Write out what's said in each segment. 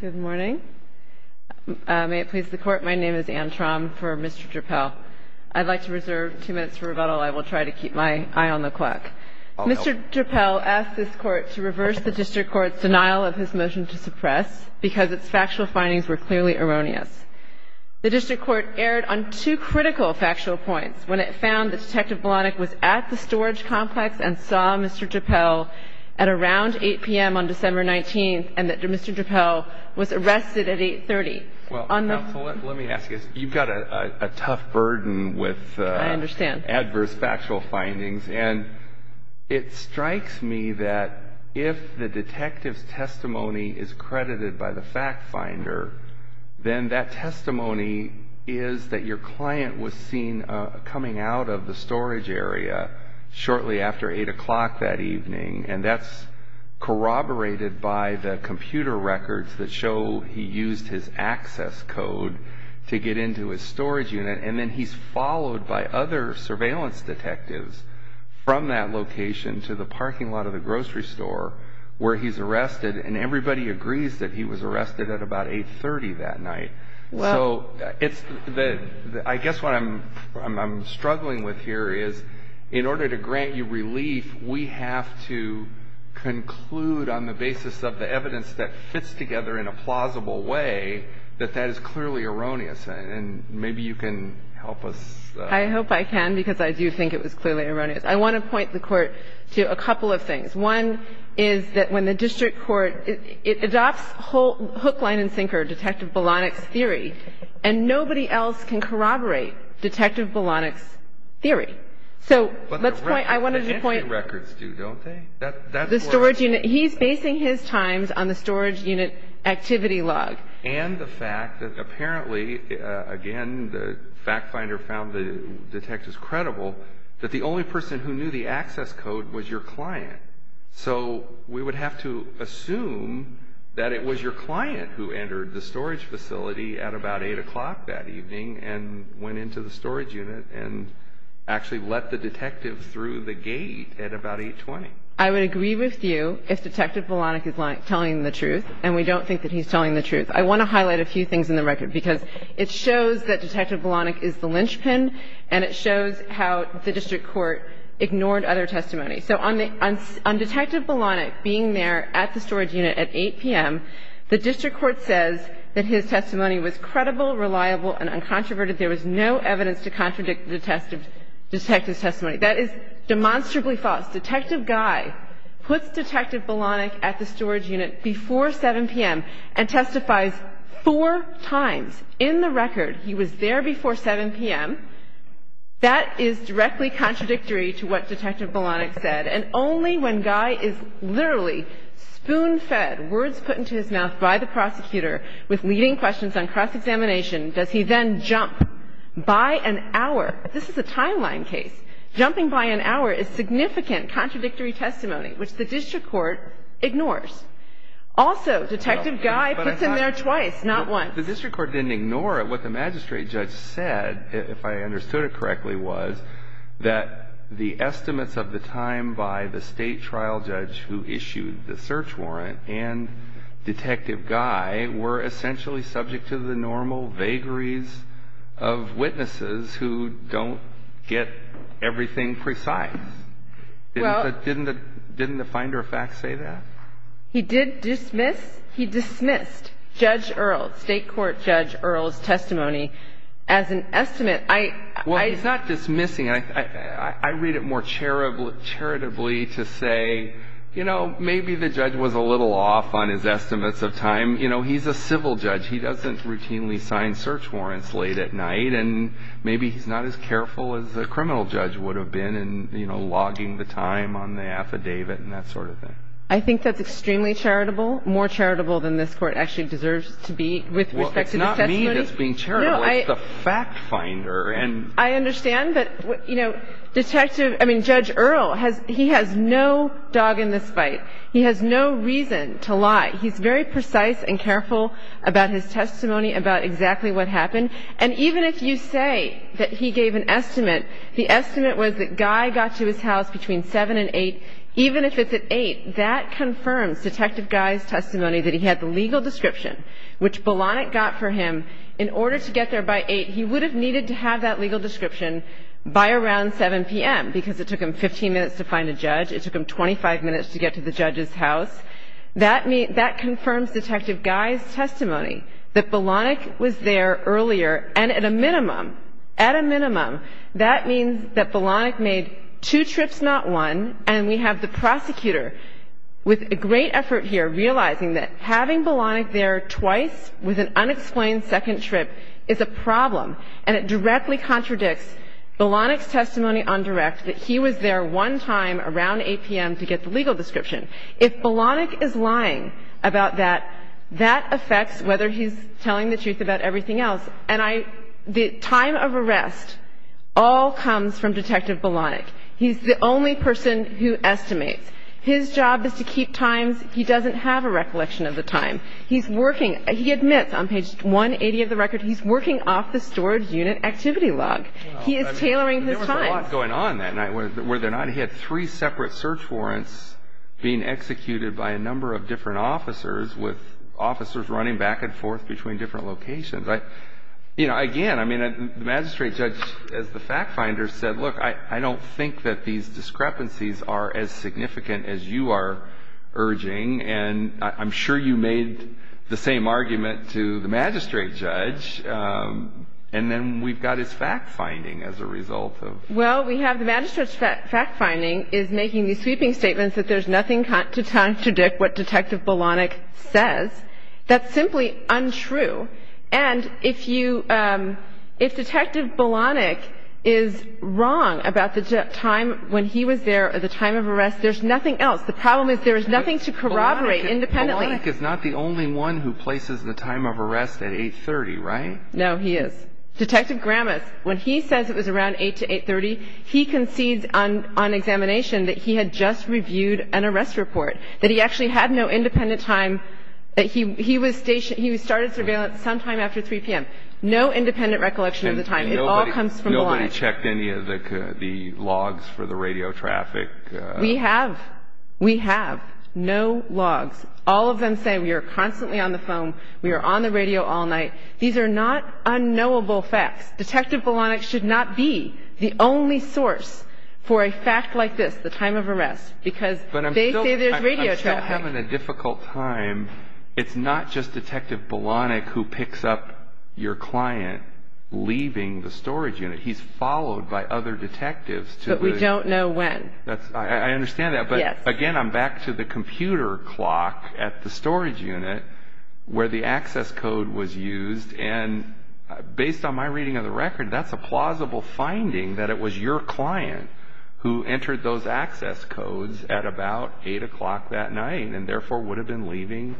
Good morning. May it please the court, my name is Anne Traum for Mr. Drapel. I'd like to reserve two minutes for rebuttal. I will try to keep my eye on the clock. Mr. Drapel asked this court to reverse the District Court's denial of his motion to suppress because its factual findings were clearly erroneous. The District Court erred on two critical factual points when it found that Detective Blahnik was at the storage complex and saw Mr. Drapel at around 8 p.m. on December 19th and that Mr. Drapel was arrested at 8.30. Well, counsel, let me ask you, you've got a tough burden with adverse factual findings. I understand. And it strikes me that if the detective's testimony is credited by the fact finder, then that testimony is that your client was seen coming out of the storage area shortly after 8 o'clock that evening and that's corroborated by the computer records that show he used his access code to get into his storage unit and then he's followed by other surveillance detectives from that location to the parking lot of the grocery store where he's been arrested. I mean, I think the point here is in order to grant you relief, we have to conclude on the basis of the evidence that fits together in a plausible way that that is clearly erroneous. And maybe you can help us. I hope I can because I do think it was clearly erroneous. I want to point the Court to a couple of things. One is that when the district court adopts hook, line, and sinker detective Bolanek's theory, and nobody else can corroborate detective Bolanek's theory. So let's point, I wanted to point. But the entry records do, don't they? The storage unit, he's basing his times on the storage unit activity log. And the fact that apparently, again, the fact finder found the detectives credible, that the only person who knew the access code was your client. So we would have to assume that it was your client who entered the storage facility at about 8 o'clock that evening and went into the storage unit and actually let the detective through the gate at about 8.20. I would agree with you if detective Bolanek is telling the truth, and we don't think that he's telling the truth. I want to highlight a few things. On detective Bolanek being there at the storage unit at 8 p.m., the district court says that his testimony was credible, reliable, and uncontroverted. There was no evidence to contradict the detective's testimony. That is demonstrably false. Detective Guy puts detective Bolanek at the storage unit before 7 p.m. and testifies four times in the record he was there before 7 p.m. That is directly contradictory to what detective Bolanek said. And only when Guy is literally spoon-fed words put into his mouth by the prosecutor with leading questions on cross-examination does he then jump by an hour. This is a timeline case. Jumping by an hour is significant contradictory testimony, which the district court ignores. Also, detective Guy puts him there twice, not once. The district court didn't ignore it. What the magistrate judge said, if I understood it correctly, was that the estimates of the time by the state trial judge who issued the search warrant and detective Guy were essentially subject to the normal vagaries of witnesses who don't get everything precise. Didn't the finder of facts say that? He did dismiss. He dismissed Judge Earle, state court Judge Earle's testimony as an estimate. Well, he's not dismissing. I read it more charitably to say, you know, maybe the judge was a little off on his estimates of time. You know, he's a civil judge. He doesn't routinely sign search warrants late at night. And maybe he's not as careful as a criminal judge would have been in, you know, logging the time on the affidavit and that sort of thing. I think that's extremely charitable, more charitable than this Court actually deserves to be with respect to the testimony. Well, it's not me that's being charitable. No, I — It's the fact finder. And — I understand. But, you know, detective — I mean, Judge Earle has — he has no dog in this fight. He has no reason to lie. He's very precise and careful about his testimony about exactly what happened. And even if you say that he gave an estimate, the estimate was that Guy got to his house between 7 and 8. Even if it's at 8, that confirms Detective Guy's testimony that he had the legal description, which Bolanek got for him. In order to get there by 8, he would have needed to have that legal description by around 7 p.m. because it took him 15 minutes to find a judge. It took him 25 minutes to get to the judge's house. That confirms Detective Guy's testimony, that Bolanek was there earlier. And at a minimum, at a minimum, that means that Bolanek made two trips, not one. And we have the prosecutor with great effort here realizing that having Bolanek there twice with an unexplained second trip is a problem. And it directly contradicts Bolanek's testimony on direct that he was there one time around 8 p.m. to get the legal description. If Bolanek is lying about that, that affects whether he's telling the truth about everything else. And the time of arrest all comes from Detective Bolanek. He's the only person who estimates. His job is to keep times. He doesn't have a recollection of the time. He's working. He admits on page 180 of the record he's working off the storage unit activity log. He is tailoring his time. There was a lot going on that night. Were there not? He had three separate search warrants being executed by a number of different officers with officers running back and forth between different locations. You know, again, I mean, the magistrate judge as the fact finder said, look, I don't think that these discrepancies are as significant as you are urging. And I'm sure you made the same argument to the magistrate judge. And then we've got his fact finding as a result of. Well, we have the magistrate's fact finding is making these sweeping statements that there's nothing to contradict what Detective Bolanek says. That's simply untrue. And if you, if Detective Bolanek is wrong about the time when he was there or the time of arrest, there's nothing else. The problem is there is nothing to corroborate independently. Bolanek is not the only one who places the time of arrest at 8.30, right? No, he is. Detective Gramas, when he says it was around 8 to 8.30, he concedes on examination that he had just reviewed an arrest report, that he actually had no independent time, that he was stationed, he started surveillance sometime after 3 p.m. No independent recollection of the time. It all comes from Bolanek. Nobody checked any of the logs for the radio traffic? We have. We have. No logs. All of them say we are constantly on the phone, we are on the radio all night. These are not unknowable facts. Detective Bolanek should not be the only source for a fact like this, the time of arrest, because they say there's radio traffic. If you're having a difficult time, it's not just Detective Bolanek who picks up your client leaving the storage unit. He's followed by other detectives. But we don't know when. I understand that, but again, I'm back to the computer clock at the storage unit where the access code was used, and based on my reading of the record, that's a plausible finding that it was your client who entered those access codes at about 8 o'clock that night and therefore would have been leaving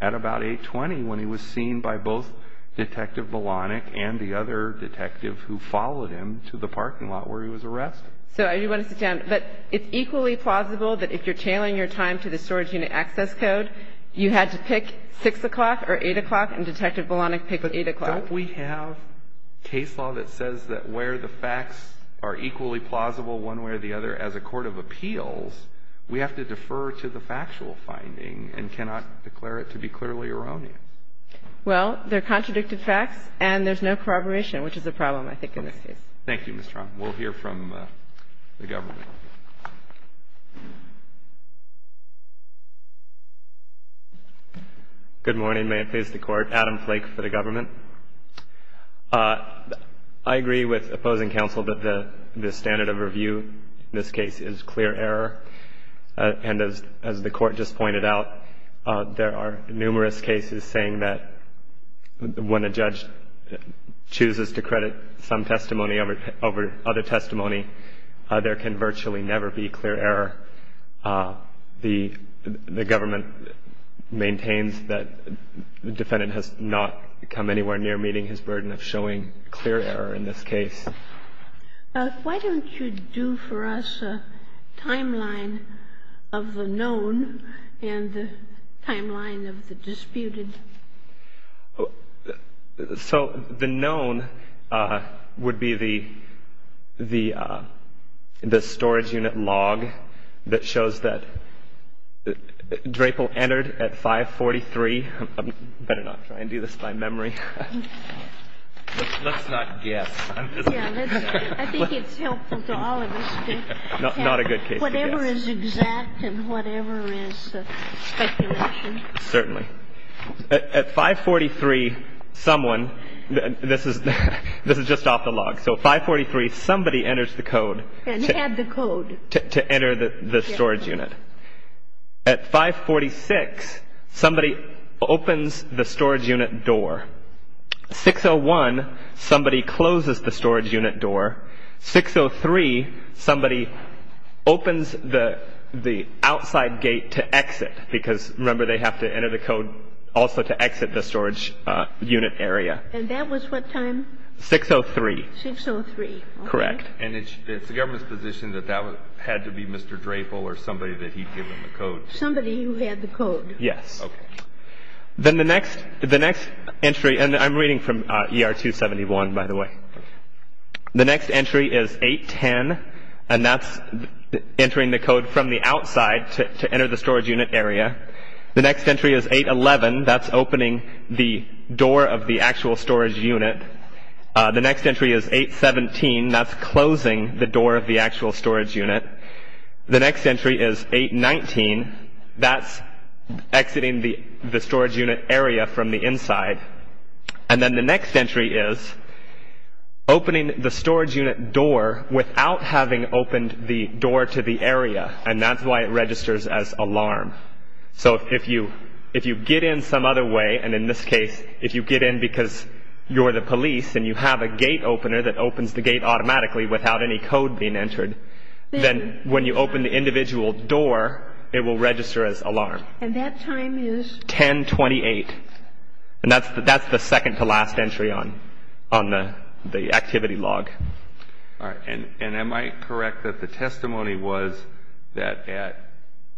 at about 8.20 when he was seen by both Detective Bolanek and the other detective who followed him to the parking lot where he was arrested. So I do want to sit down. But it's equally plausible that if you're tailing your time to the storage unit access code, you had to pick 6 o'clock or 8 o'clock, and Detective Bolanek picked 8 o'clock. Don't we have case law that says that where the facts are equally plausible one way or the other as a court of appeals, we have to defer to the factual finding and cannot declare it to be clearly erroneous? Well, they're contradicted facts, and there's no corroboration, which is a problem, I think, in this case. Thank you, Ms. Trump. We'll hear from the government. Good morning. May it please the Court. Adam Flake for the government. I agree with opposing counsel that the standard of review in this case is clear error. And as the Court just pointed out, there are numerous cases saying that when a judge chooses to credit some testimony over other testimony, there can virtually never be clear error. The government maintains that the defendant has not come anywhere near meeting his burden of showing clear error in this case. Why don't you do for us a timeline of the known and the timeline of the disputed? So the known would be the storage unit log that shows that Drapel entered at 543. I better not try and do this by memory. Let's not guess. I think it's helpful to all of us to have whatever is exact and whatever is speculation. Certainly. At 543, someone, this is just off the log, so at 543, somebody enters the code. And had the code. To enter the storage unit. At 546, somebody opens the storage unit door. 601, somebody closes the storage unit door. 603, somebody opens the outside gate to exit because, remember, they have to enter the code also to exit the storage unit area. And that was what time? 603. 603. Correct. And it's the government's position that that had to be Mr. Drapel or somebody that he'd given the code. Somebody who had the code. Yes. Okay. Then the next entry, and I'm reading from ER 271, by the way. The next entry is 810, and that's entering the code from the outside to enter the storage unit area. The next entry is 811. That's opening the door of the actual storage unit. The next entry is 817. That's closing the door of the actual storage unit. The next entry is 819. That's exiting the storage unit area from the inside. And then the next entry is opening the storage unit door without having opened the door to the area, and that's why it registers as alarm. So if you get in some other way, and in this case, if you get in because you're the police and you have a gate opener that opens the gate automatically without any code being entered, then when you open the individual door, it will register as alarm. And that time is? 1028. And that's the second-to-last entry on the activity log. All right. And am I correct that the testimony was that at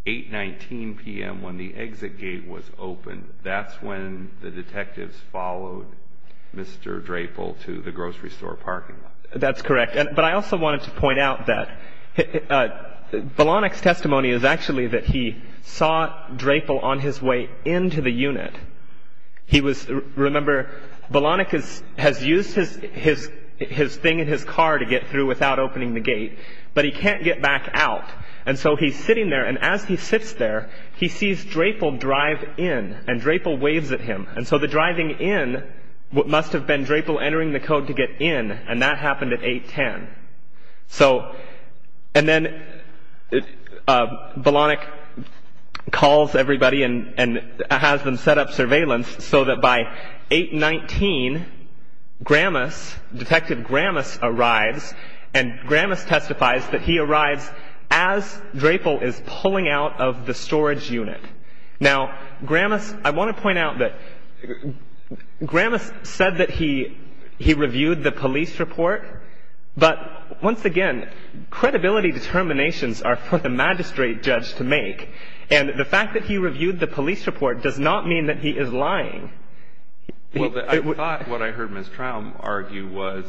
819 p.m. when the exit gate was opened, that's when the detectives followed Mr. Drapel to the grocery store parking lot? That's correct. But I also wanted to point out that Bolanek's testimony is actually that he saw Drapel on his way into the unit. Remember, Bolanek has used his thing in his car to get through without opening the gate, but he can't get back out. And so he's sitting there, and as he sits there, he sees Drapel drive in, and Drapel waves at him. And so the driving in must have been Drapel entering the code to get in, and that happened at 810. So, and then Bolanek calls everybody and has them set up surveillance so that by 819, Gramus, Detective Gramus arrives, and Gramus testifies that he arrives as Drapel is pulling out of the storage unit. Now, Gramus, I want to point out that Gramus said that he reviewed the police report, but once again, credibility determinations are for the magistrate judge to make, and the fact that he reviewed the police report does not mean that he is lying. Well, I thought what I heard Ms. Traum argue was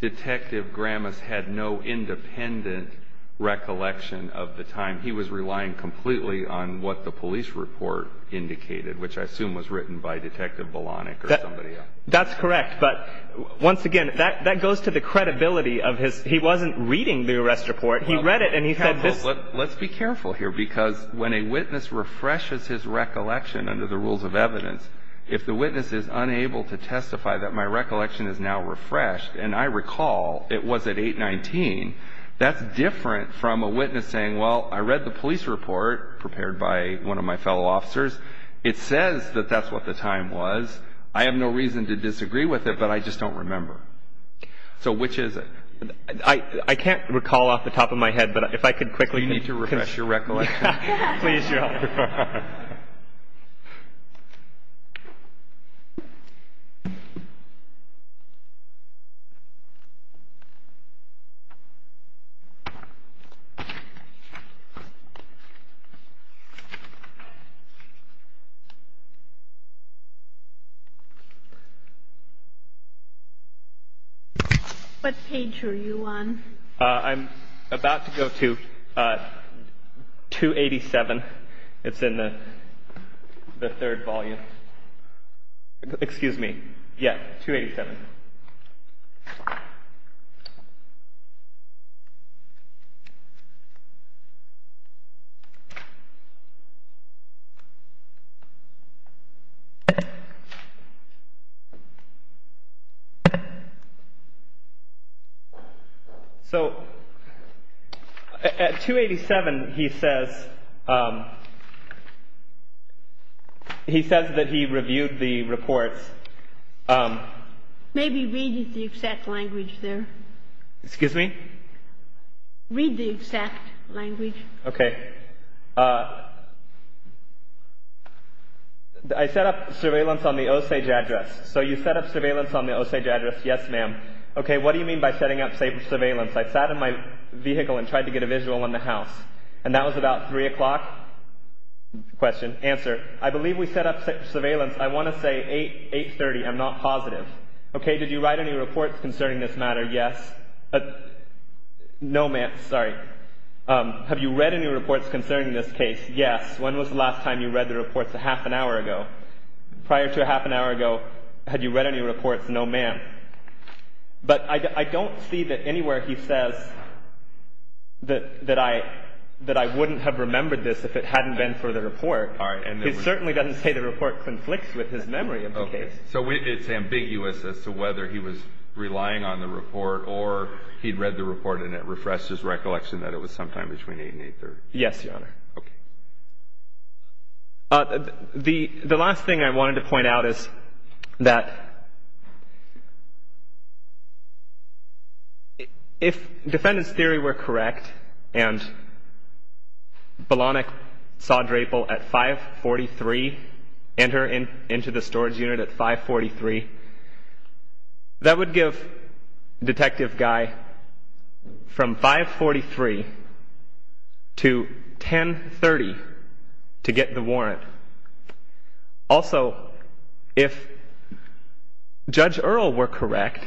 Detective Gramus had no independent recollection of the time. He was relying completely on what the police report indicated, which I assume was written by Detective Bolanek or somebody else. That's correct, but once again, that goes to the credibility of his. He wasn't reading the arrest report. He read it, and he said this. Let's be careful here, because when a witness refreshes his recollection under the rules of evidence, if the witness is unable to testify that my recollection is now refreshed, and I recall it was at 819, that's different from a witness saying, well, I read the police report prepared by one of my fellow officers. It says that that's what the time was. I have no reason to disagree with it, but I just don't remember. So which is it? I can't recall off the top of my head, but if I could quickly. You need to refresh your recollection. Please do. What page are you on? I'm about to go to 287. It's in the third volume. Excuse me. Yeah, 287. So at 287, he says that he reviewed the reports. Maybe read the exact language there. Excuse me? Read the exact language. Okay. I set up surveillance on the Osage address. So you set up surveillance on the Osage address. Yes, ma'am. Okay. What do you mean by setting up surveillance? I sat in my vehicle and tried to get a visual on the house, and that was about 3 o'clock? Question. Answer. I believe we set up surveillance. I want to say 830. I'm not positive. Okay. Did you write any reports concerning this matter? Yes. No, ma'am. Sorry. Have you read any reports concerning this case? Yes. When was the last time you read the reports? A half an hour ago. Prior to a half an hour ago, had you read any reports? No, ma'am. But I don't see that anywhere he says that I wouldn't have remembered this if it hadn't been for the report. All right. He certainly doesn't say the report conflicts with his memory of the case. So it's ambiguous as to whether he was relying on the report or he'd read the report and it refreshed his recollection that it was sometime between 8 and 830. Yes, Your Honor. Okay. The last thing I wanted to point out is that if defendant's theory were correct and Bolanek saw Drapel at 543, enter into the storage unit at 543, that would give Detective Guy from 543 to 1030 to get the warrant. Also, if Judge Earle were correct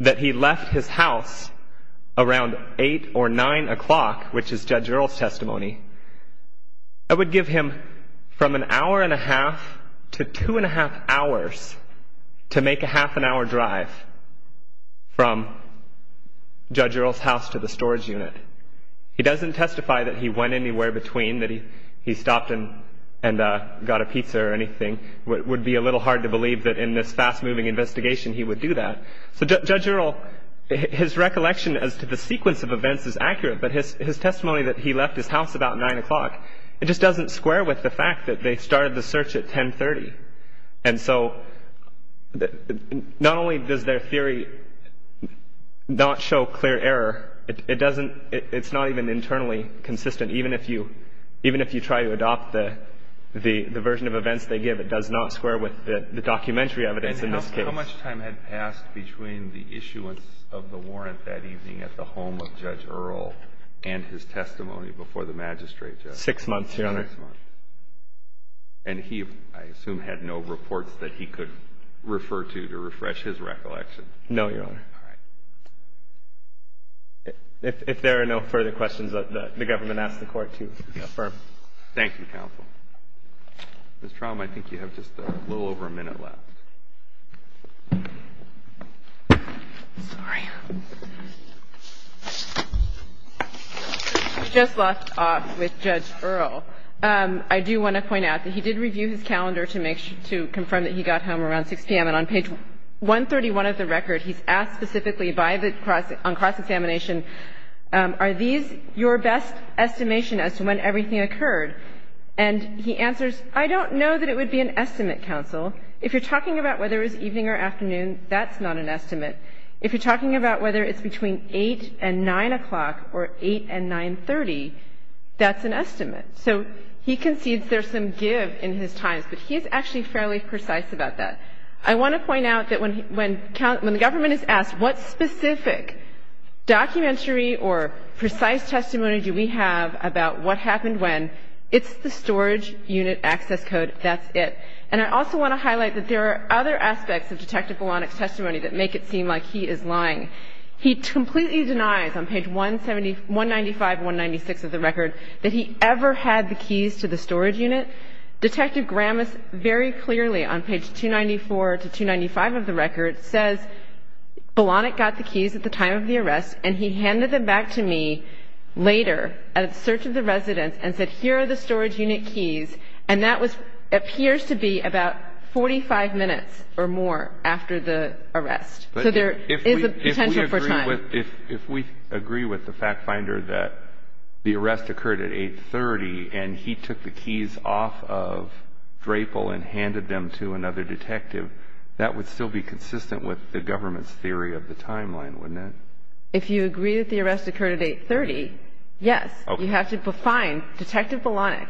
that he left his house around 8 or 9 o'clock, which is Judge Earle's testimony, that would give him from an hour and a half to two and a half hours to make a half an hour drive from Judge Earle's house to the storage unit. He doesn't testify that he went anywhere between, that he stopped and got a pizza or anything. It would be a little hard to believe that in this fast-moving investigation he would do that. So Judge Earle, his recollection as to the sequence of events is accurate, but his testimony that he left his house about 9 o'clock, it just doesn't square with the fact that they started the search at 1030. And so not only does their theory not show clear error, it's not even internally consistent. Even if you try to adopt the version of events they give, it does not square with the documentary evidence in this case. And how much time had passed between the issuance of the warrant that evening at the home of Judge Earle and his testimony before the magistrate judge? Six months, Your Honor. Six months. And he, I assume, had no reports that he could refer to to refresh his recollection? No, Your Honor. All right. If there are no further questions, the government asks the Court to affirm. Thank you, counsel. Ms. Traum, I think you have just a little over a minute left. Sorry. I just left off with Judge Earle. I do want to point out that he did review his calendar to make sure to confirm that he got home around 6 p.m. And he asked the government on page 131 of the record, he's asked specifically on cross-examination, are these your best estimation as to when everything occurred? And he answers, I don't know that it would be an estimate, counsel. If you're talking about whether it was evening or afternoon, that's not an estimate. If you're talking about whether it's between 8 and 9 o'clock or 8 and 930, that's an estimate. So he concedes there's some give in his times, but he's actually fairly precise about that. I want to point out that when the government is asked what specific documentary or precise testimony do we have about what happened when, it's the storage unit access code. That's it. And I also want to highlight that there are other aspects of Detective Vilonik's testimony that make it seem like he is lying. He completely denies on page 195 and 196 of the record that he ever had the keys to the storage unit. Detective Gramis, very clearly on page 294 to 295 of the record, says Vilonik got the keys at the time of the arrest, and he handed them back to me later at a search of the residence and said, here are the storage unit keys. And that appears to be about 45 minutes or more after the arrest. So there is a potential for time. If we agree with the fact finder that the arrest occurred at 830 and he took the keys off of Drapel and handed them to another detective, that would still be consistent with the government's theory of the timeline, wouldn't it? If you agree that the arrest occurred at 830, yes. You have to find Detective Vilonik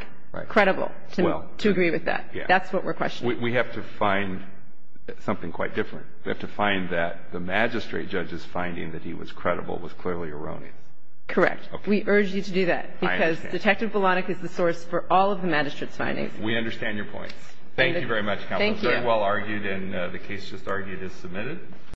credible to agree with that. That's what we're questioning. We have to find something quite different. We have to find that the magistrate judge's finding that he was credible was clearly erroneous. Correct. We urge you to do that. I understand. Because Detective Vilonik is the source for all of the magistrate's findings. We understand your point. Thank you very much, Counsel. Thank you. It was very well argued, and the case just argued is submitted.